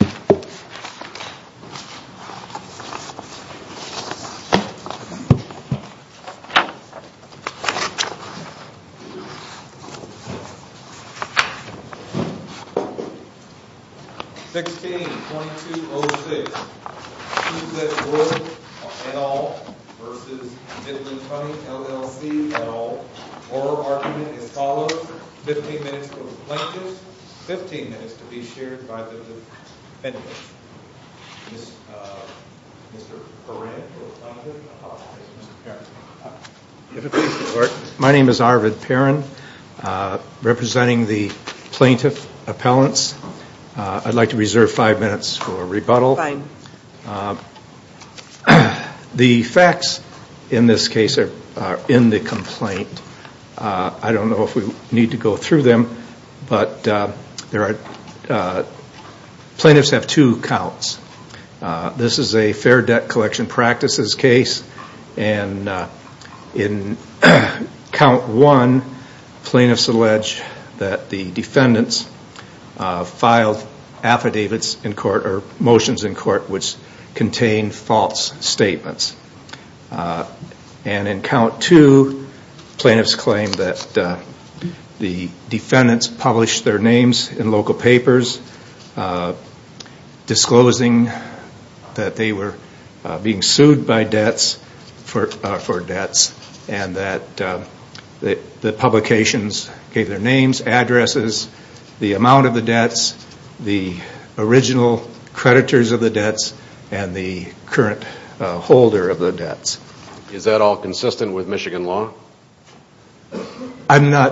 16-2206 Susette Wood, et al. v. Midland Funding LLC, et al. The oral argument is followed. 15 minutes for the plaintiffs, 15 minutes to be shared by the defendants. My name is Arvid Perrin, representing the plaintiff appellants. I'd like to reserve five minutes for rebuttal. The facts in this case are in the complaint. I don't know if we need to go through them, but plaintiffs have two counts. This is a Fair Debt Collection Practices case. In count one, plaintiffs allege that the defendants filed motions in court which contained false statements. In count two, plaintiffs claim that the defendants published their names in local papers disclosing that they were being sued for debts. The publications gave their names, addresses, the amount of the debts, the original creditors of the debts, and the current holder of the debts. Is that all consistent with Michigan law? No.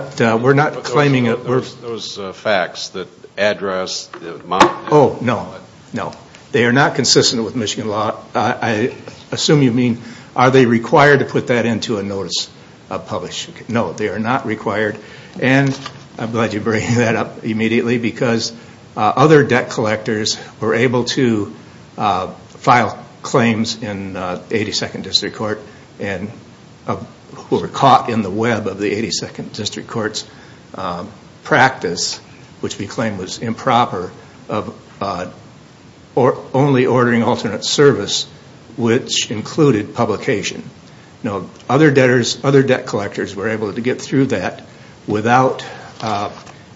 They are not consistent with Michigan law. I assume you mean, are they required to put that into a notice of publication? No, they are not required. I'm glad you brought that up immediately because other debt collectors were able to file claims in 82nd District Court and were caught in the web of the 82nd District Court's practice, which we claim was improper, of only ordering alternate service, which included publication. Other debt collectors were able to get through that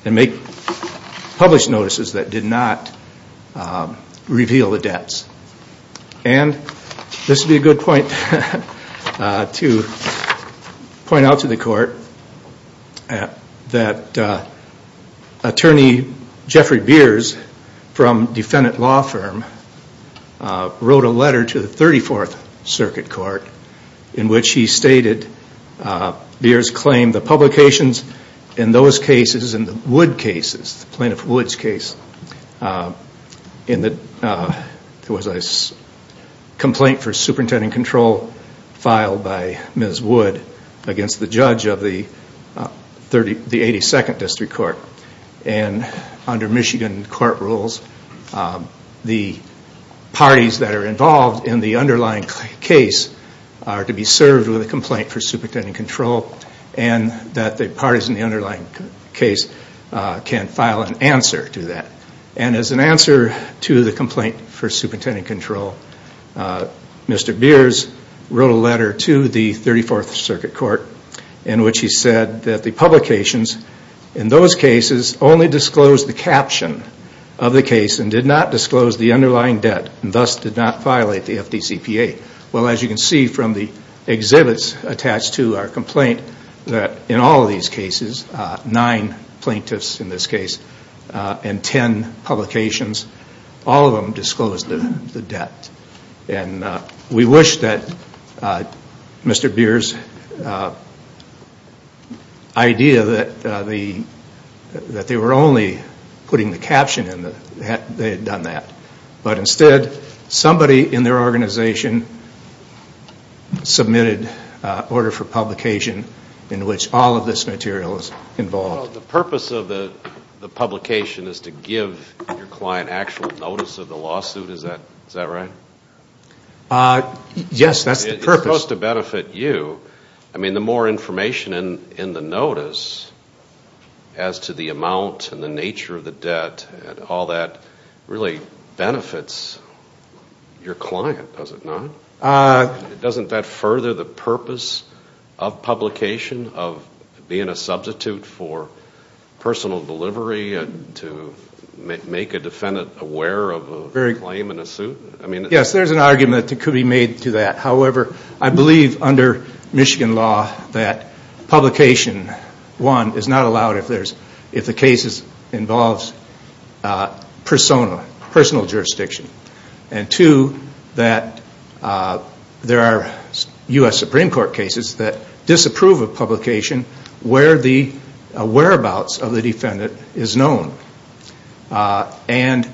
and make published notices that did not reveal the debts. This would be a good point to point out to the court that attorney Jeffrey Beers from Defendant Law Firm wrote a letter to the 34th Circuit Court in which he stated, Beers claimed the publications in those cases, in the Wood cases, the plaintiff Wood's case, there was a complaint for superintendent control filed by Ms. Wood against the judge of the 82nd District Court. Under Michigan court rules, the parties that are involved in the underlying case are to be served with a complaint for superintendent control and that the parties in the underlying case can file an answer to that. As an answer to the complaint for superintendent control, Mr. Beers wrote a letter to the 34th Circuit Court in which he said that the publications in those cases only disclosed the caption of the case and did not disclose the underlying debt and thus did not violate the FDCPA. As you can see from the exhibits attached to our complaint, in all of these cases, nine plaintiffs in this case and ten publications, all of them disclosed the debt. We wish that Mr. Beers' idea that they were only putting the caption in, they had done that. But instead, somebody in their organization submitted an order for publication in which all of this material is involved. Well, the purpose of the publication is to give your client actual notice of the lawsuit, is that right? Yes, that's the purpose. It's supposed to benefit you. I mean, the more information in the notice as to the amount and the nature of the debt and all that really benefits your client, does it not? Doesn't that further the purpose of publication, of being a substitute for personal delivery and to make a defendant aware of a claim in a suit? There are U.S. Supreme Court cases that disapprove of publication where the whereabouts of the defendant is known. And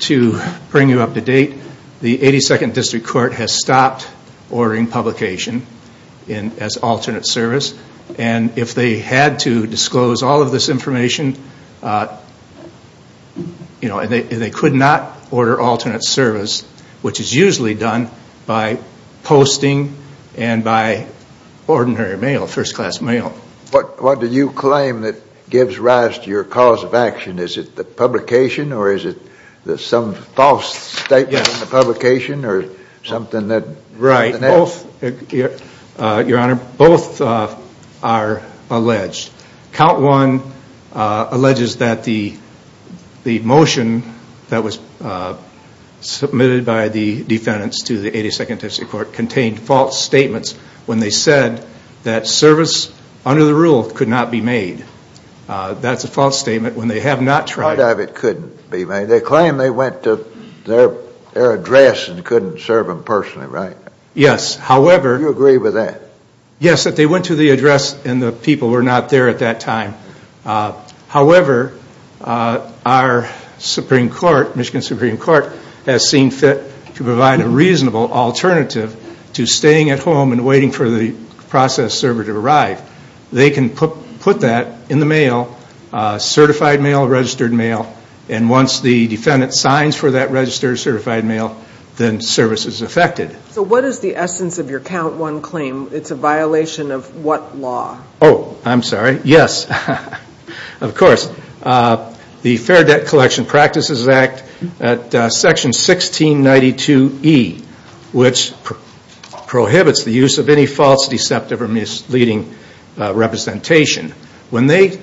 to bring you up to date, the 82nd District Court has stopped ordering publication as alternate service. And if they had to disclose all of this information, they could not order alternate service, which is usually done by posting and by ordinary mail, first class mail. What do you claim that gives rise to your cause of action? Is it the publication or is it some false statement in the publication? Right. Your Honor, both are alleged. Count 1 alleges that the motion that was submitted by the defendants to the 82nd District Court contained false statements when they said that service under the rule could not be made. That's a false statement when they have not tried. Part of it couldn't be made. They claim they went to their address and couldn't serve them personally, right? Yes, however... You agree with that? Yes, that they went to the address and the people were not there at that time. However, our Supreme Court, Michigan Supreme Court, has seen fit to provide a reasonable alternative to staying at home and waiting for the process server to arrive. They can put that in the mail, certified mail, registered mail, and once the defendant signs for that registered, certified mail, then service is effected. So what is the essence of your Count 1 claim? It's a violation of what law? Oh, I'm sorry. Yes, of course. The Fair Debt Collection Practices Act, Section 1692E, which prohibits the use of any false, deceptive, or misleading representation. When they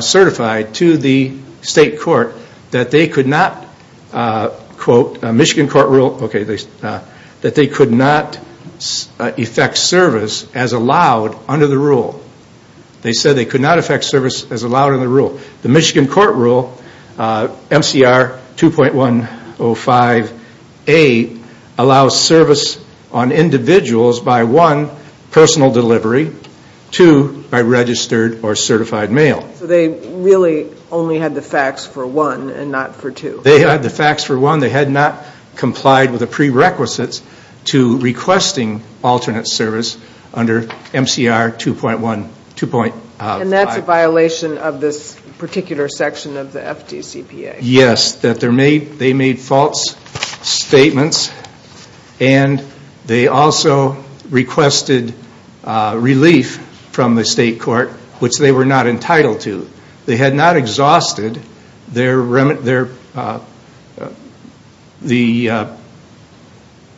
certified to the state court that they could not, quote, Michigan court rule, that they could not effect service as allowed under the rule. They said they could not effect service as allowed under the rule. The Michigan court rule, MCR 2.105A, allows service on individuals by one, personal delivery, two, by registered or certified mail. So they really only had the facts for one and not for two? They had the facts for one. They had not complied with the prerequisites to requesting alternate service under MCR 2.105A. And that's a violation of this particular section of the FDCPA? Yes, that they made false statements and they also requested relief from the state court, which they were not entitled to. They had not exhausted the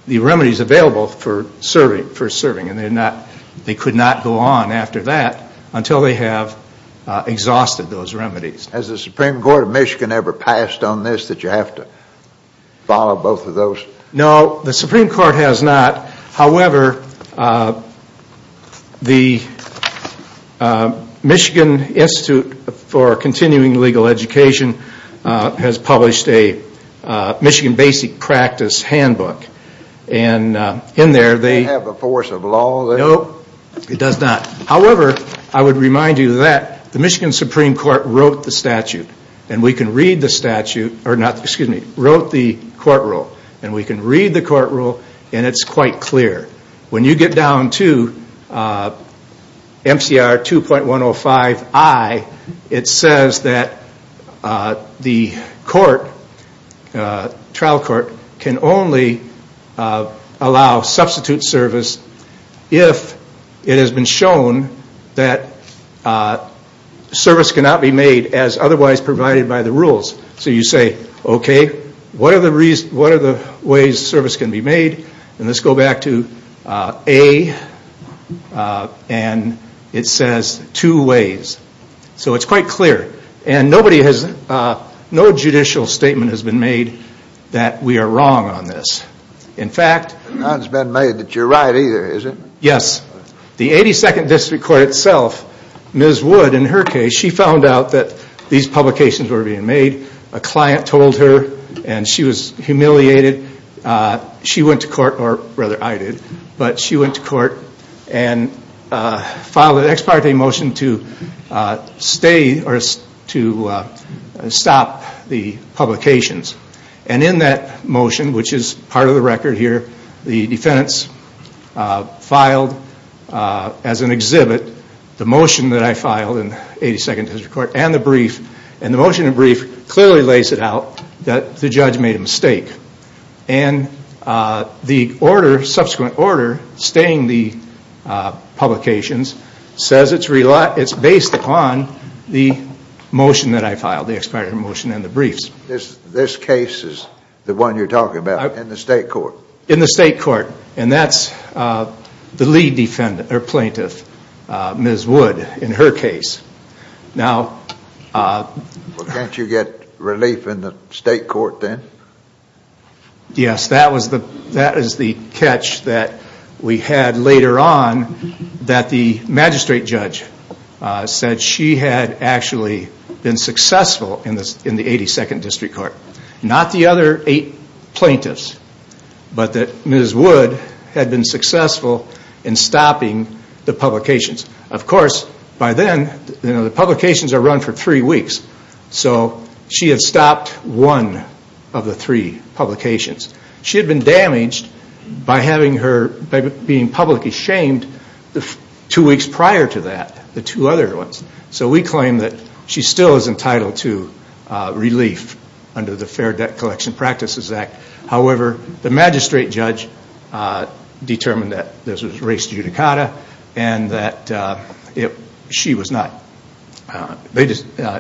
remedies available for serving and they could not go on after that until they have exhausted those remedies. Has the Supreme Court of Michigan ever passed on this, that you have to follow both of those? No, the Supreme Court has not. However, the Michigan Institute for Continuing Legal Education has published a Michigan Basic Practice Handbook. Does that have a force of law? No, it does not. However, I would remind you that the Michigan Supreme Court wrote the statute and we can read the court rule and it's quite clear. When you get down to MCR 2.105I, it says that the trial court can only allow substitute service if it has been shown that service cannot be made as otherwise provided by the rules. So you say, okay, what are the ways service can be made? And let's go back to A and it says two ways. So it's quite clear. And nobody has, no judicial statement has been made that we are wrong on this. In fact... None has been made that you're right either, is it? Yes. The 82nd District Court itself, Ms. Wood in her case, she found out that these publications were being made. A client told her and she was humiliated. She went to court, or rather I did, but she went to court and filed an ex parte motion to stop the publications. And in that motion, which is part of the record here, the defendants filed as an exhibit the motion that I filed in the 82nd District Court and the brief. And the motion and brief clearly lays it out that the judge made a mistake. And the order, subsequent order, staying the publications says it's based upon the motion that I filed, the ex parte motion and the briefs. This case is the one you're talking about in the state court? In the state court. And that's the lead defendant, or plaintiff, Ms. Wood in her case. Now... Can't you get relief in the state court then? Yes, that is the catch that we had later on that the magistrate judge said she had actually been successful in the 82nd District Court. Not the other eight plaintiffs, but that Ms. Wood had been successful in stopping the publications. Of course, by then, the publications are run for three weeks. So she had stopped one of the three publications. She had been damaged by being publicly shamed two weeks prior to that, the two other ones. So we claim that she still is entitled to relief under the Fair Debt Collection Practices Act. However, the magistrate judge determined that this was race judicata and that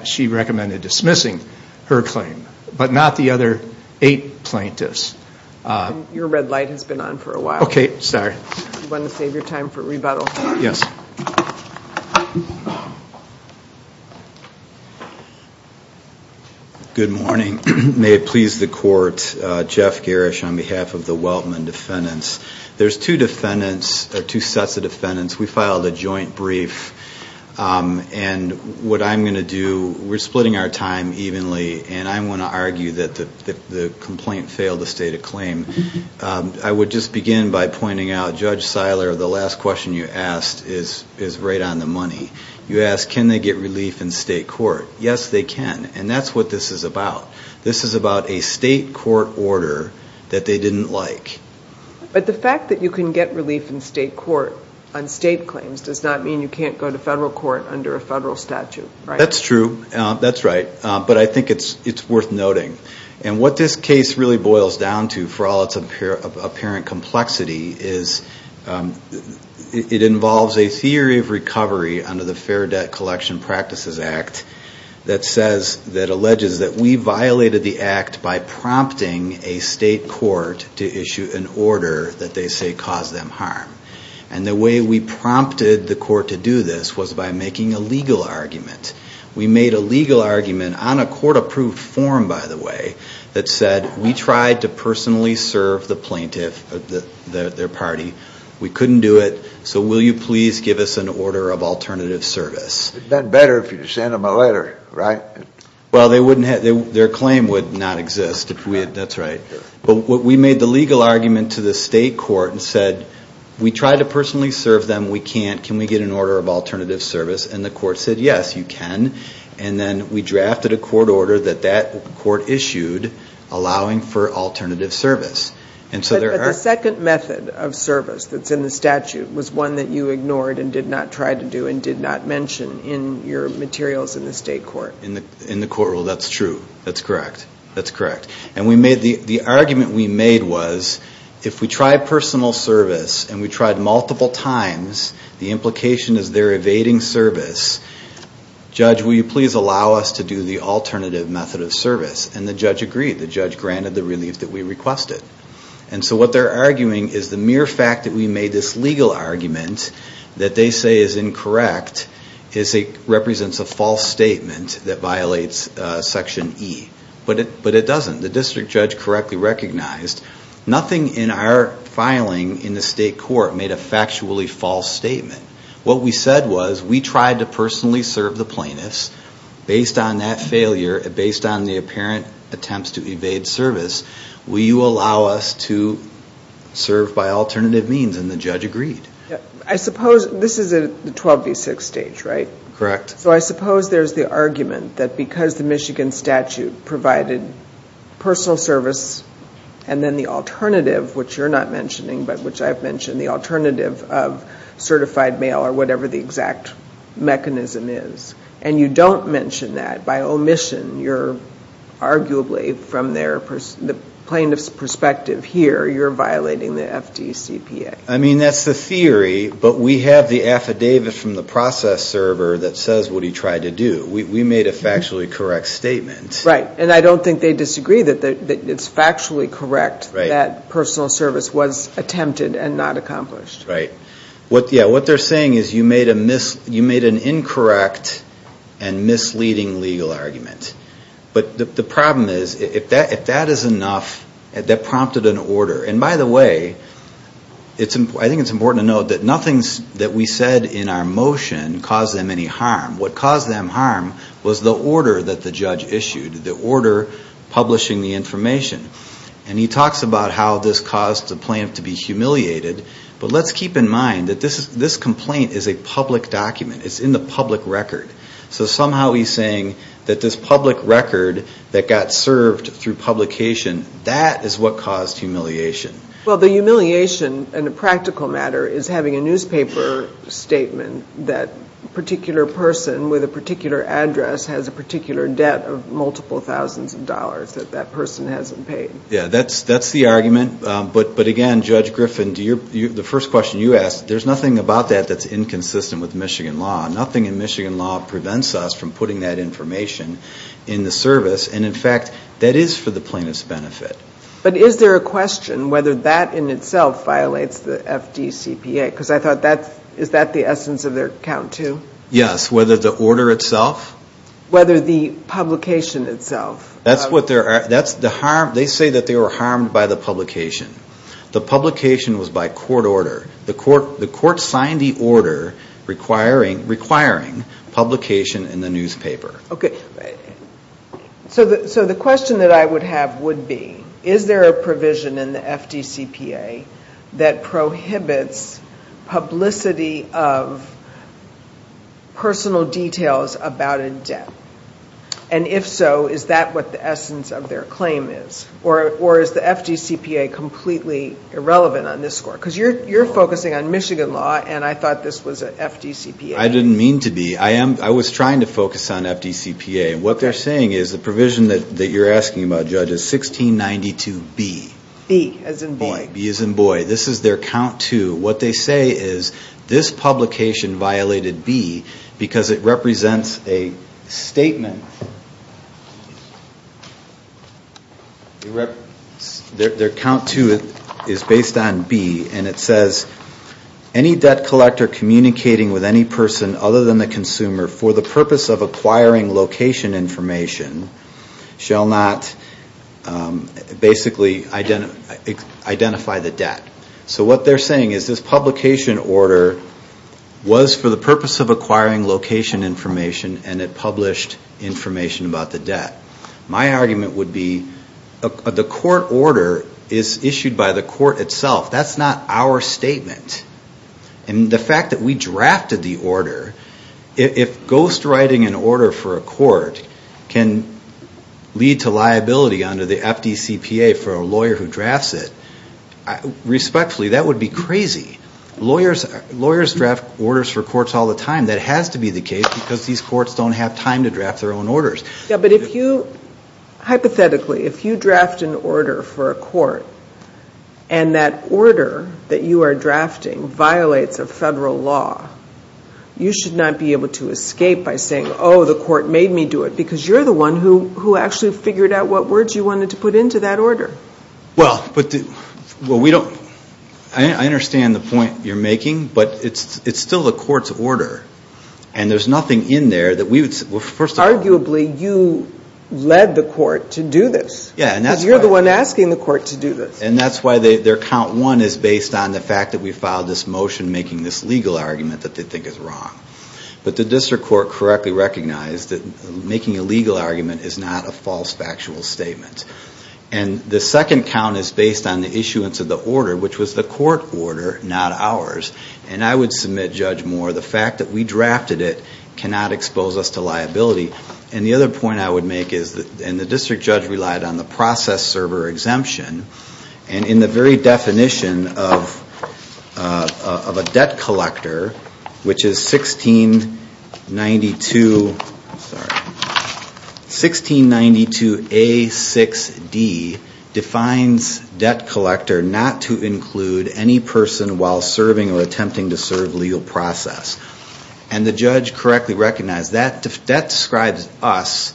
she recommended dismissing her claim. But not the other eight plaintiffs. Your red light has been on for a while. Okay, sorry. Yes. Good morning. May it please the court. Jeff Garish on behalf of the Weltman defendants. There's two sets of defendants. We filed a joint brief. And what I'm going to do, we're splitting our time evenly, and I'm going to argue that the complaint failed to state a claim. I would just begin by pointing out, Judge Seiler, the last question you asked is right on the money. You asked, can they get relief in state court? Yes, they can. And that's what this is about. This is about a state court order that they didn't like. But the fact that you can get relief in state court on state claims does not mean you can't go to federal court under a federal statute, right? That's true. That's right. But I think it's worth noting. And what this case really boils down to, for all its apparent complexity, is it involves a theory of recovery under the Fair Debt Collection Practices Act that says, that alleges that we violated the act by prompting a state court to issue an order that they say caused them harm. And the way we prompted the court to do this was by making a legal argument. We made a legal argument on a court-approved form, by the way, that said, we tried to personally serve the plaintiff, their party. We couldn't do it. So will you please give us an order of alternative service? It would have been better if you had sent them a letter, right? Well, their claim would not exist if we had. That's right. But we made the legal argument to the state court and said, we tried to personally serve them. We can't. Can we get an order of alternative service? And the court said, yes, you can. And then we drafted a court order that that court issued allowing for alternative service. But the second method of service that's in the statute was one that you ignored and did not try to do and did not mention in your materials in the state court. In the court rule, that's true. That's correct. That's correct. The argument we made was, if we tried personal service and we tried multiple times, the implication is they're evading service. Judge, will you please allow us to do the alternative method of service? And the judge agreed. The judge granted the relief that we requested. And so what they're arguing is the mere fact that we made this legal argument that they say is incorrect represents a false statement that violates Section E. But it doesn't. The district judge correctly recognized. Nothing in our filing in the state court made a factually false statement. What we said was, we tried to personally serve the plaintiffs. Based on that failure, based on the apparent attempts to evade service, will you allow us to serve by alternative means? And the judge agreed. I suppose this is a 12 v. 6 stage, right? Correct. So I suppose there's the argument that because the Michigan statute provided personal service and then the alternative, which you're not mentioning, but which I've mentioned, the alternative of certified mail or whatever the exact mechanism is, and you don't mention that by omission, you're arguably, from the plaintiff's perspective here, you're violating the FDCPA. I mean, that's the theory, but we have the affidavit from the process server that says what he tried to do. We made a factually correct statement. Right. And I don't think they disagree that it's factually correct that personal service was attempted and not accomplished. Right. What they're saying is you made an incorrect and misleading legal argument. But the problem is, if that is enough, that prompted an order. And, by the way, I think it's important to note that nothing that we said in our motion caused them any harm. What caused them harm was the order that the judge issued, the order publishing the information. And he talks about how this caused the plaintiff to be humiliated. But let's keep in mind that this complaint is a public document. It's in the public record. So somehow he's saying that this public record that got served through publication, that is what caused humiliation. Well, the humiliation in a practical matter is having a newspaper statement that a particular person with a particular address has a particular debt of multiple thousands of dollars that that person hasn't paid. Yeah, that's the argument. But, again, Judge Griffin, the first question you asked, there's nothing about that that's inconsistent with Michigan law. Nothing in Michigan law prevents us from putting that information in the service. And, in fact, that is for the plaintiff's benefit. But is there a question whether that in itself violates the FDCPA? Because I thought that's the essence of their account too. Yes, whether the order itself. Whether the publication itself. That's what they're – they say that they were harmed by the publication. The publication was by court order. The court signed the order requiring publication in the newspaper. Okay. So the question that I would have would be, is there a provision in the FDCPA that prohibits publicity of personal details about a debt? And, if so, is that what the essence of their claim is? Or is the FDCPA completely irrelevant on this score? Because you're focusing on Michigan law, and I thought this was an FDCPA. I didn't mean to be. I was trying to focus on FDCPA. What they're saying is the provision that you're asking about, Judge, is 1692B. B as in boy. B as in boy. This is their count too. What they say is this publication violated B because it represents a statement. Their count too is based on B, and it says, any debt collector communicating with any person other than the consumer for the purpose of acquiring location information shall not basically identify the debt. So what they're saying is this publication order was for the purpose of acquiring location information, and it published information about the debt. My argument would be the court order is issued by the court itself. That's not our statement. And the fact that we drafted the order, if ghostwriting an order for a court can lead to liability under the FDCPA for a lawyer who drafts it, respectfully, that would be crazy. Lawyers draft orders for courts all the time. That has to be the case because these courts don't have time to draft their own orders. But if you, hypothetically, if you draft an order for a court, and that order that you are drafting violates a federal law, you should not be able to escape by saying, oh, the court made me do it, because you're the one who actually figured out what words you wanted to put into that order. Well, but we don't, I understand the point you're making, but it's still the court's order, and there's nothing in there that we would, well, first of all. Arguably, you led the court to do this. Yeah, and that's why. Because you're the one asking the court to do this. And that's why their count one is based on the fact that we filed this motion making this legal argument that they think is wrong. But the district court correctly recognized that making a legal argument is not a false factual statement. And the second count is based on the issuance of the order, which was the court order, not ours. And I would submit, Judge Moore, the fact that we drafted it cannot expose us to liability. And the other point I would make is, and the district judge relied on the process server exemption, and in the very definition of a debt collector, which is 1692, I'm sorry. 1692A6D defines debt collector not to include any person while serving or attempting to serve legal process. And the judge correctly recognized that. That describes us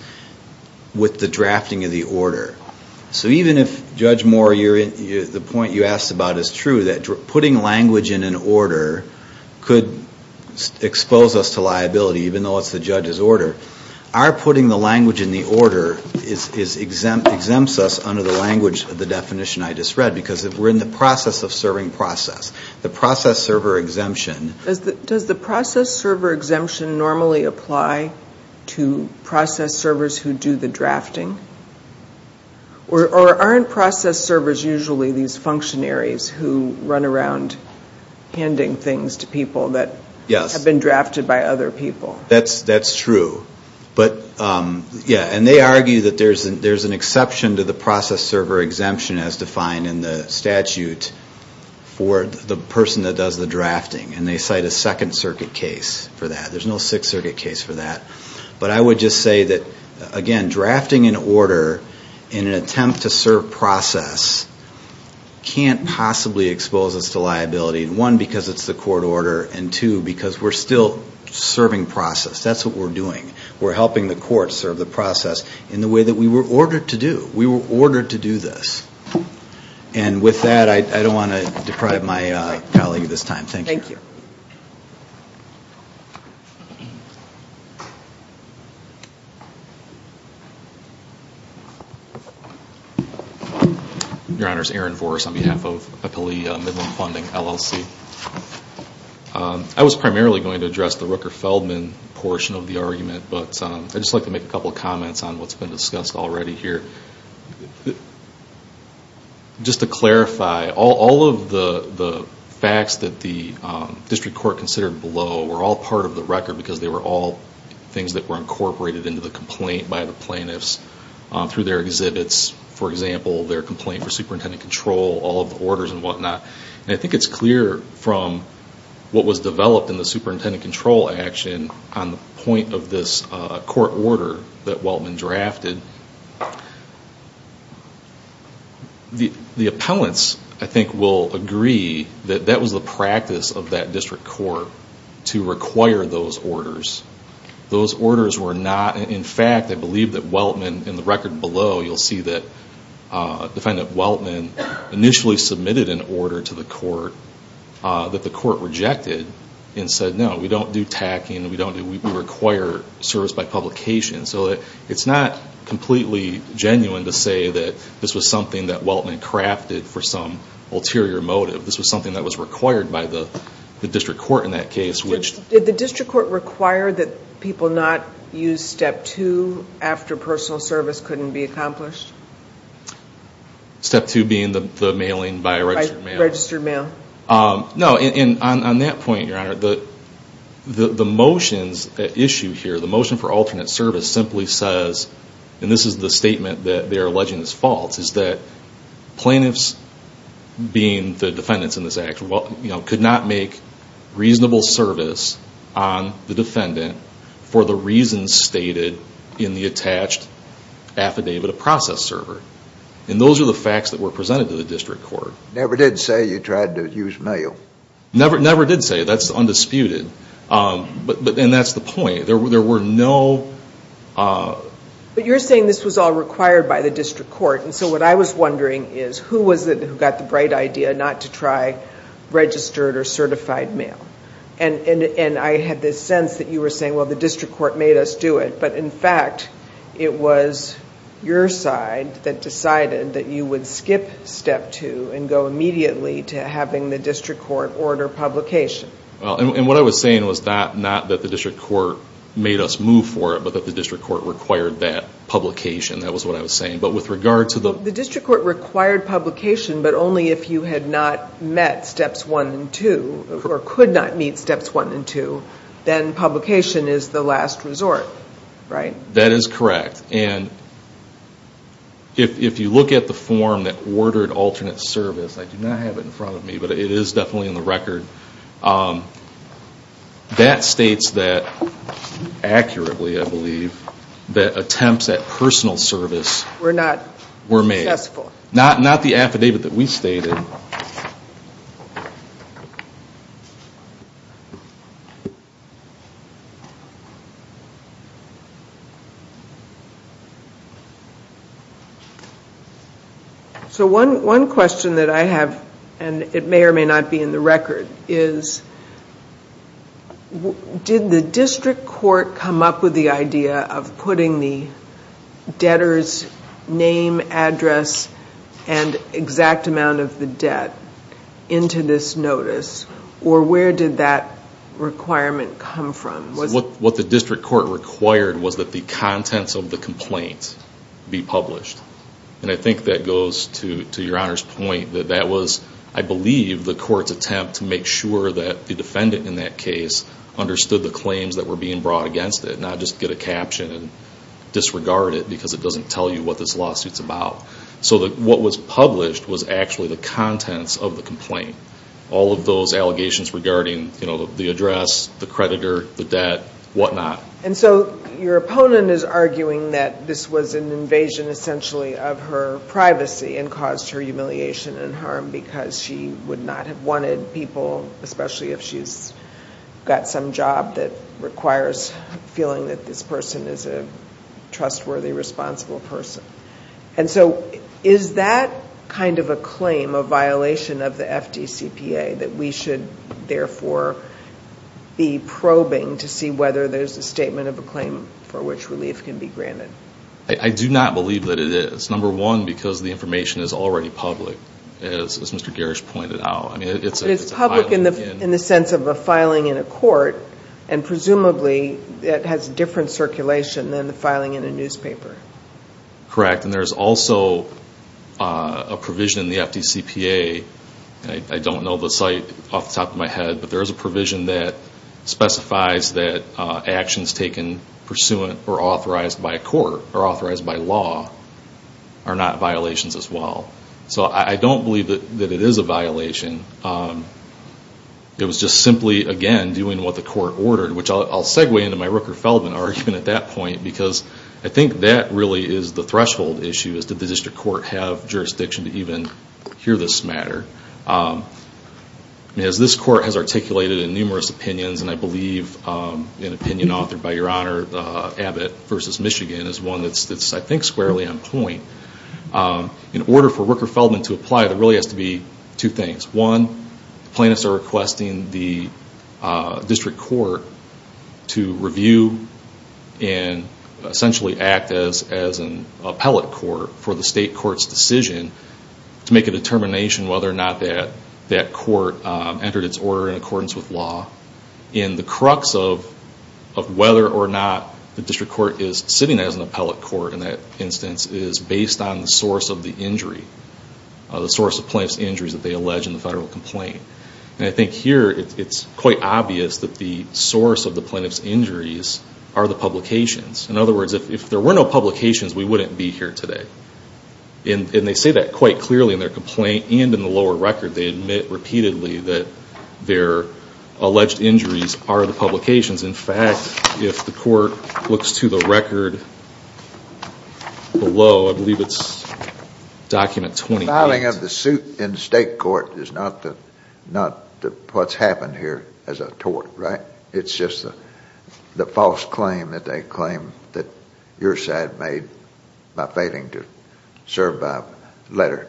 with the drafting of the order. So even if, Judge Moore, the point you asked about is true, that putting language in an order could expose us to liability, even though it's the judge's order. Our putting the language in the order exempts us under the language of the definition I just read. Because we're in the process of serving process. The process server exemption... Does the process server exemption normally apply to process servers who do the drafting? Or aren't process servers usually these functionaries who run around handing things to people that have been drafted by other people? That's true. And they argue that there's an exception to the process server exemption as defined in the statute for the person that does the drafting. And they cite a Second Circuit case for that. There's no Sixth Circuit case for that. But I would just say that, again, drafting an order in an attempt to serve process can't possibly expose us to liability. One, because it's the court order. And two, because we're still serving process. That's what we're doing. We're helping the court serve the process in the way that we were ordered to do. We were ordered to do this. And with that, I don't want to deprive my colleague of this time. Thank you. Your Honor, Aaron Voris on behalf of Appellee Midland Funding, LLC. I was primarily going to address the Rooker-Feldman portion of the argument. But I'd just like to make a couple of comments on what's been discussed already here. Just to clarify, all of the facts that the district court considered below were all part of the record, because they were all things that were incorporated into the complaint by the plaintiffs through their exhibits. For example, their complaint for superintendent control, all of the orders and whatnot. And I think it's clear from what was developed in the superintendent control action on the point of this court order that Weltman drafted, the appellants, I think, will agree that that was the practice of that district court to require those orders. Those orders were not... In fact, I believe that Weltman, in the record below, you'll see that Weltman initially submitted an order to the court that the court rejected and said, no, we don't do tacking, we require service by publication. So it's not completely genuine to say that this was something that Weltman crafted for some ulterior motive. This was something that was required by the district court in that case, which... Did the district court require that people not use Step 2 after personal service couldn't be accomplished? Step 2 being the mailing by registered mail? By registered mail. No, and on that point, Your Honor, the motions at issue here, the motion for alternate service, simply says, and this is the statement that they are alleging is false, is that plaintiffs, being the defendants in this action, could not make reasonable service on the defendant for the reasons stated in the attached affidavit of process server. And those are the facts that were presented to the district court. Never did say you tried to use mail. Never did say. That's undisputed. And that's the point. There were no... But you're saying this was all required by the district court, and so what I was wondering is, who was it who got the bright idea not to try registered or certified mail? And I had this sense that you were saying, well, the district court made us do it, but in fact, it was your side that decided that you would skip Step 2 and go immediately to having the district court order publication. And what I was saying was not that the district court made us move for it, but that the district court required that publication. That was what I was saying. The district court required publication, but only if you had not met Steps 1 and 2, or could not meet Steps 1 and 2, then publication is the last resort, right? That is correct. And if you look at the form that ordered alternate service, I do not have it in front of me, but it is definitely in the record, that states that accurately, I believe, that attempts at personal service were made. Were not successful. Not the affidavit that we stated. So one question that I have, and it may or may not be in the record, is did the district court come up with the idea of putting the debtor's name, address, and exact amount of the debt into this notice, or where did that requirement come from? What the district court required was that the contents of the complaint be published. And I think that goes to your Honor's point that that was, I believe, the court's attempt to make sure that the defendant in that case understood the claims that were being brought against it, not just get a caption and disregard it because it doesn't tell you what this lawsuit is about. So what was published was actually the contents of the complaint. All of those allegations regarding the address, the creditor, the debt, whatnot. And so your opponent is arguing that this was an invasion, essentially, of her privacy and caused her humiliation and harm because she would not have wanted people, especially if she's got some job that requires feeling that this person is a trustworthy, responsible person. And so is that kind of a claim, a violation of the FDCPA, that we should, therefore, be probing to see whether there's a statement of a claim for which relief can be granted? I do not believe that it is. It's number one because the information is already public, as Mr. Garish pointed out. But it's public in the sense of a filing in a court, and presumably it has different circulation than the filing in a newspaper. Correct. And there's also a provision in the FDCPA, and I don't know the site off the top of my head, but there's a provision that specifies that actions taken pursuant or authorized by a court or authorized by law are not violations as well. So I don't believe that it is a violation. It was just simply, again, doing what the court ordered, which I'll segue into my Rooker-Feldman argument at that point because I think that really is the threshold issue, is did the district court have jurisdiction to even hear this matter? As this court has articulated in numerous opinions, and I believe an opinion authored by Your Honor, Abbott v. Michigan is one that's, I think, squarely on point. In order for Rooker-Feldman to apply, there really has to be two things. One, the plaintiffs are requesting the district court to review and essentially act as an appellate court for the state court's decision to make a determination whether or not that court entered its order in accordance with law. And the crux of whether or not the district court is sitting as an appellate court in that instance is based on the source of the injury, the source of plaintiff's injuries that they allege in the federal complaint. And I think here it's quite obvious that the source of the plaintiff's injuries are the publications. In other words, if there were no publications, we wouldn't be here today. And they say that quite clearly in their complaint and in the lower record. They admit repeatedly that their alleged injuries are the publications. In fact, if the court looks to the record below, I believe it's document 28. The filing of the suit in state court is not what's happened here as a tort, right? It's just the false claim that they claim that your side made by failing to serve by letter.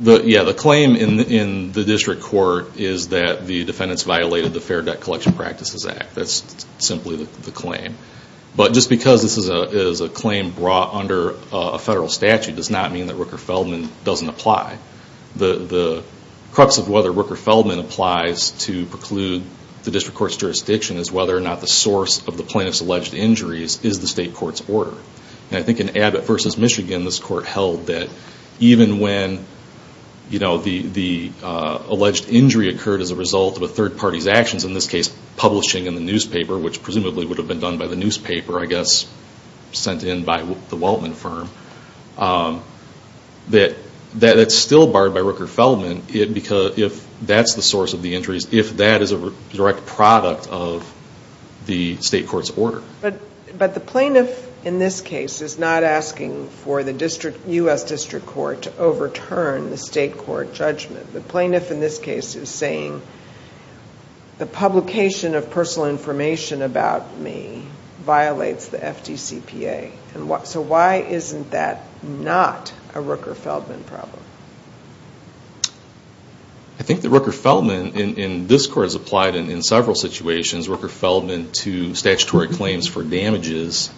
The claim in the district court is that the defendants violated the Fair Debt Collection Practices Act. That's simply the claim. But just because this is a claim brought under a federal statute does not mean that Rooker-Feldman doesn't apply. The crux of whether Rooker-Feldman applies to preclude the district court's jurisdiction is whether or not the source of the plaintiff's alleged injuries is the state court's order. And I think in Abbott v. Michigan, this court held that even when the alleged injury occurred as a result of a third party's actions, in this case publishing in the newspaper, which presumably would have been done by the newspaper, I guess, sent in by the Weltman firm, that's still barred by Rooker-Feldman if that's the source of the injuries, if that is a direct product of the state court's order. But the plaintiff in this case is not asking for the U.S. District Court to overturn the state court judgment. The plaintiff in this case is saying, the publication of personal information about me violates the FDCPA. So why isn't that not a Rooker-Feldman problem? But in several situations, Rooker-Feldman to statutory claims for damages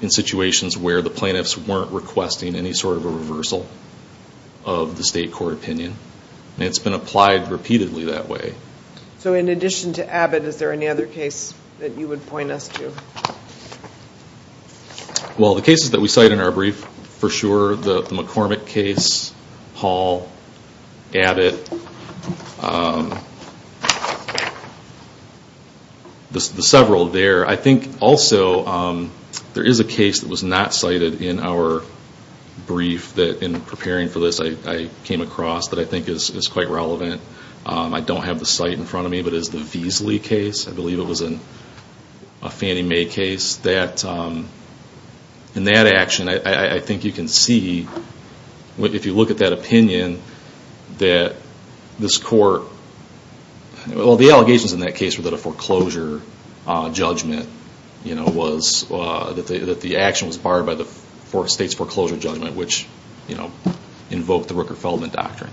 in situations where the plaintiffs weren't requesting any sort of a reversal of the state court opinion. And it's been applied repeatedly that way. So in addition to Abbott, is there any other case that you would point us to? Well, the cases that we cite in our brief, for sure, the McCormick case, Hall, Abbott, the several there, I think also there is a case that was not cited in our brief that in preparing for this I came across that I think is quite relevant. I don't have the site in front of me, but it's the Veasley case. I believe it was a Fannie Mae case. if you look at that opinion, the allegations in that case were that a foreclosure judgment was that the action was barred by the state's foreclosure judgment, which invoked the Rooker-Feldman doctrine.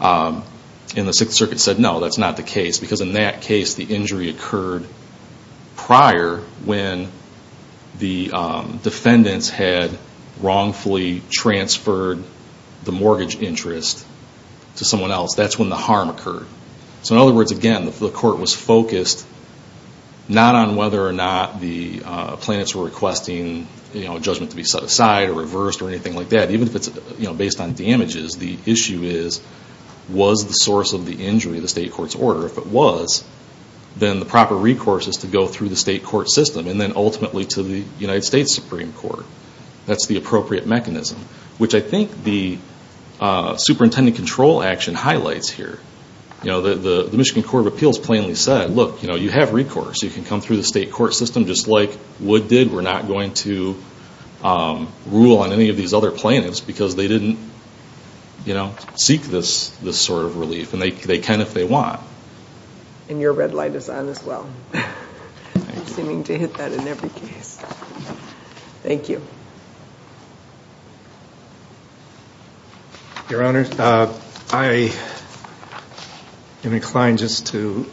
And the 6th Circuit said no, that's not the case because in that case the injury occurred prior when the defendants had wrongfully transferred the mortgage interest to someone else. That's when the harm occurred. So in other words, again, the court was focused not on whether or not the plaintiffs were requesting a judgment to be set aside or reversed or anything like that. Even if it's based on damages, the issue is was the source of the injury the state court's order? If it was, then the proper recourse is to go through the state court system and then ultimately to the United States Supreme Court. That's the appropriate mechanism, which I think the superintendent control action highlights here. The Michigan Court of Appeals plainly said, look, you have recourse. You can come through the state court system just like Wood did. We're not going to rule on any of these other plaintiffs because they didn't seek this sort of relief. And they can if they want. And your red light is on as well. I'm seeming to hit that in every case. Thank you. Your Honor, I am inclined just to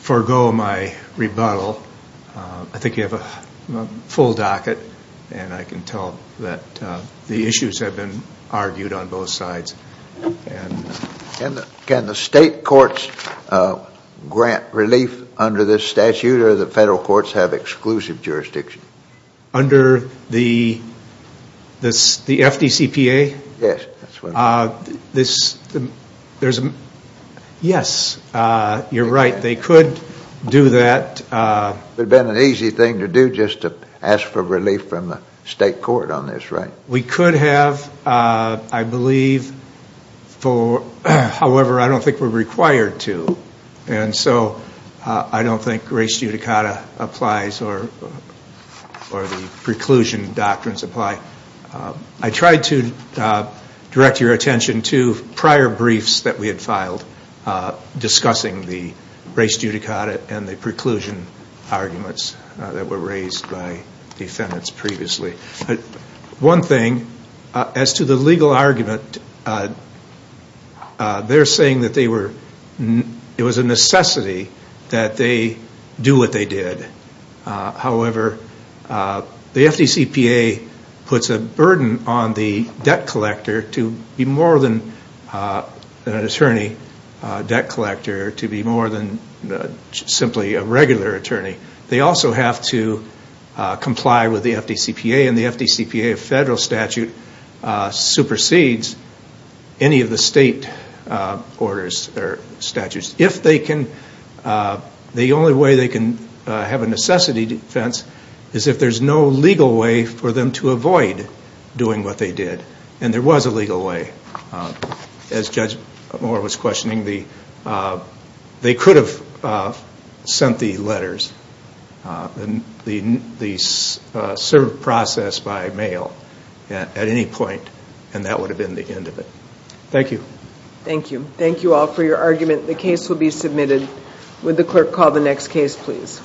forego my rebuttal. I think you have a full docket and I can tell that the issues have been argued on both sides. Can the state court's grant relief under this statute or the federal courts have exclusive jurisdiction? Under the FDCPA? Yes. Yes, you're right. They could do that. It would have been an easy thing to do just to ask for relief from the state court on this, right? We could have, I believe, however, I don't think we're required to. And so I don't think res judicata applies or the preclusion doctrines apply. I tried to direct your attention to prior briefs that we had filed discussing the res judicata and the preclusion arguments that were raised by defendants previously. One thing, as to the legal argument, they're saying that it was a necessity that they do what they did. However, the FDCPA puts a burden on the debt collector to be more than an attorney debt collector, to be more than simply a regular attorney. They also have to comply with the FDCPA and the FDCPA federal statute supersedes any of the state orders or statutes. The only way they can have a necessity defense is if there's no legal way for them to avoid doing what they did. And there was a legal way. As Judge Moore was questioning, they could have sent the letters, the serve process by mail at any point, and that would have been the end of it. Thank you. Thank you all for your argument. The case will be submitted. Would the clerk call the next case please?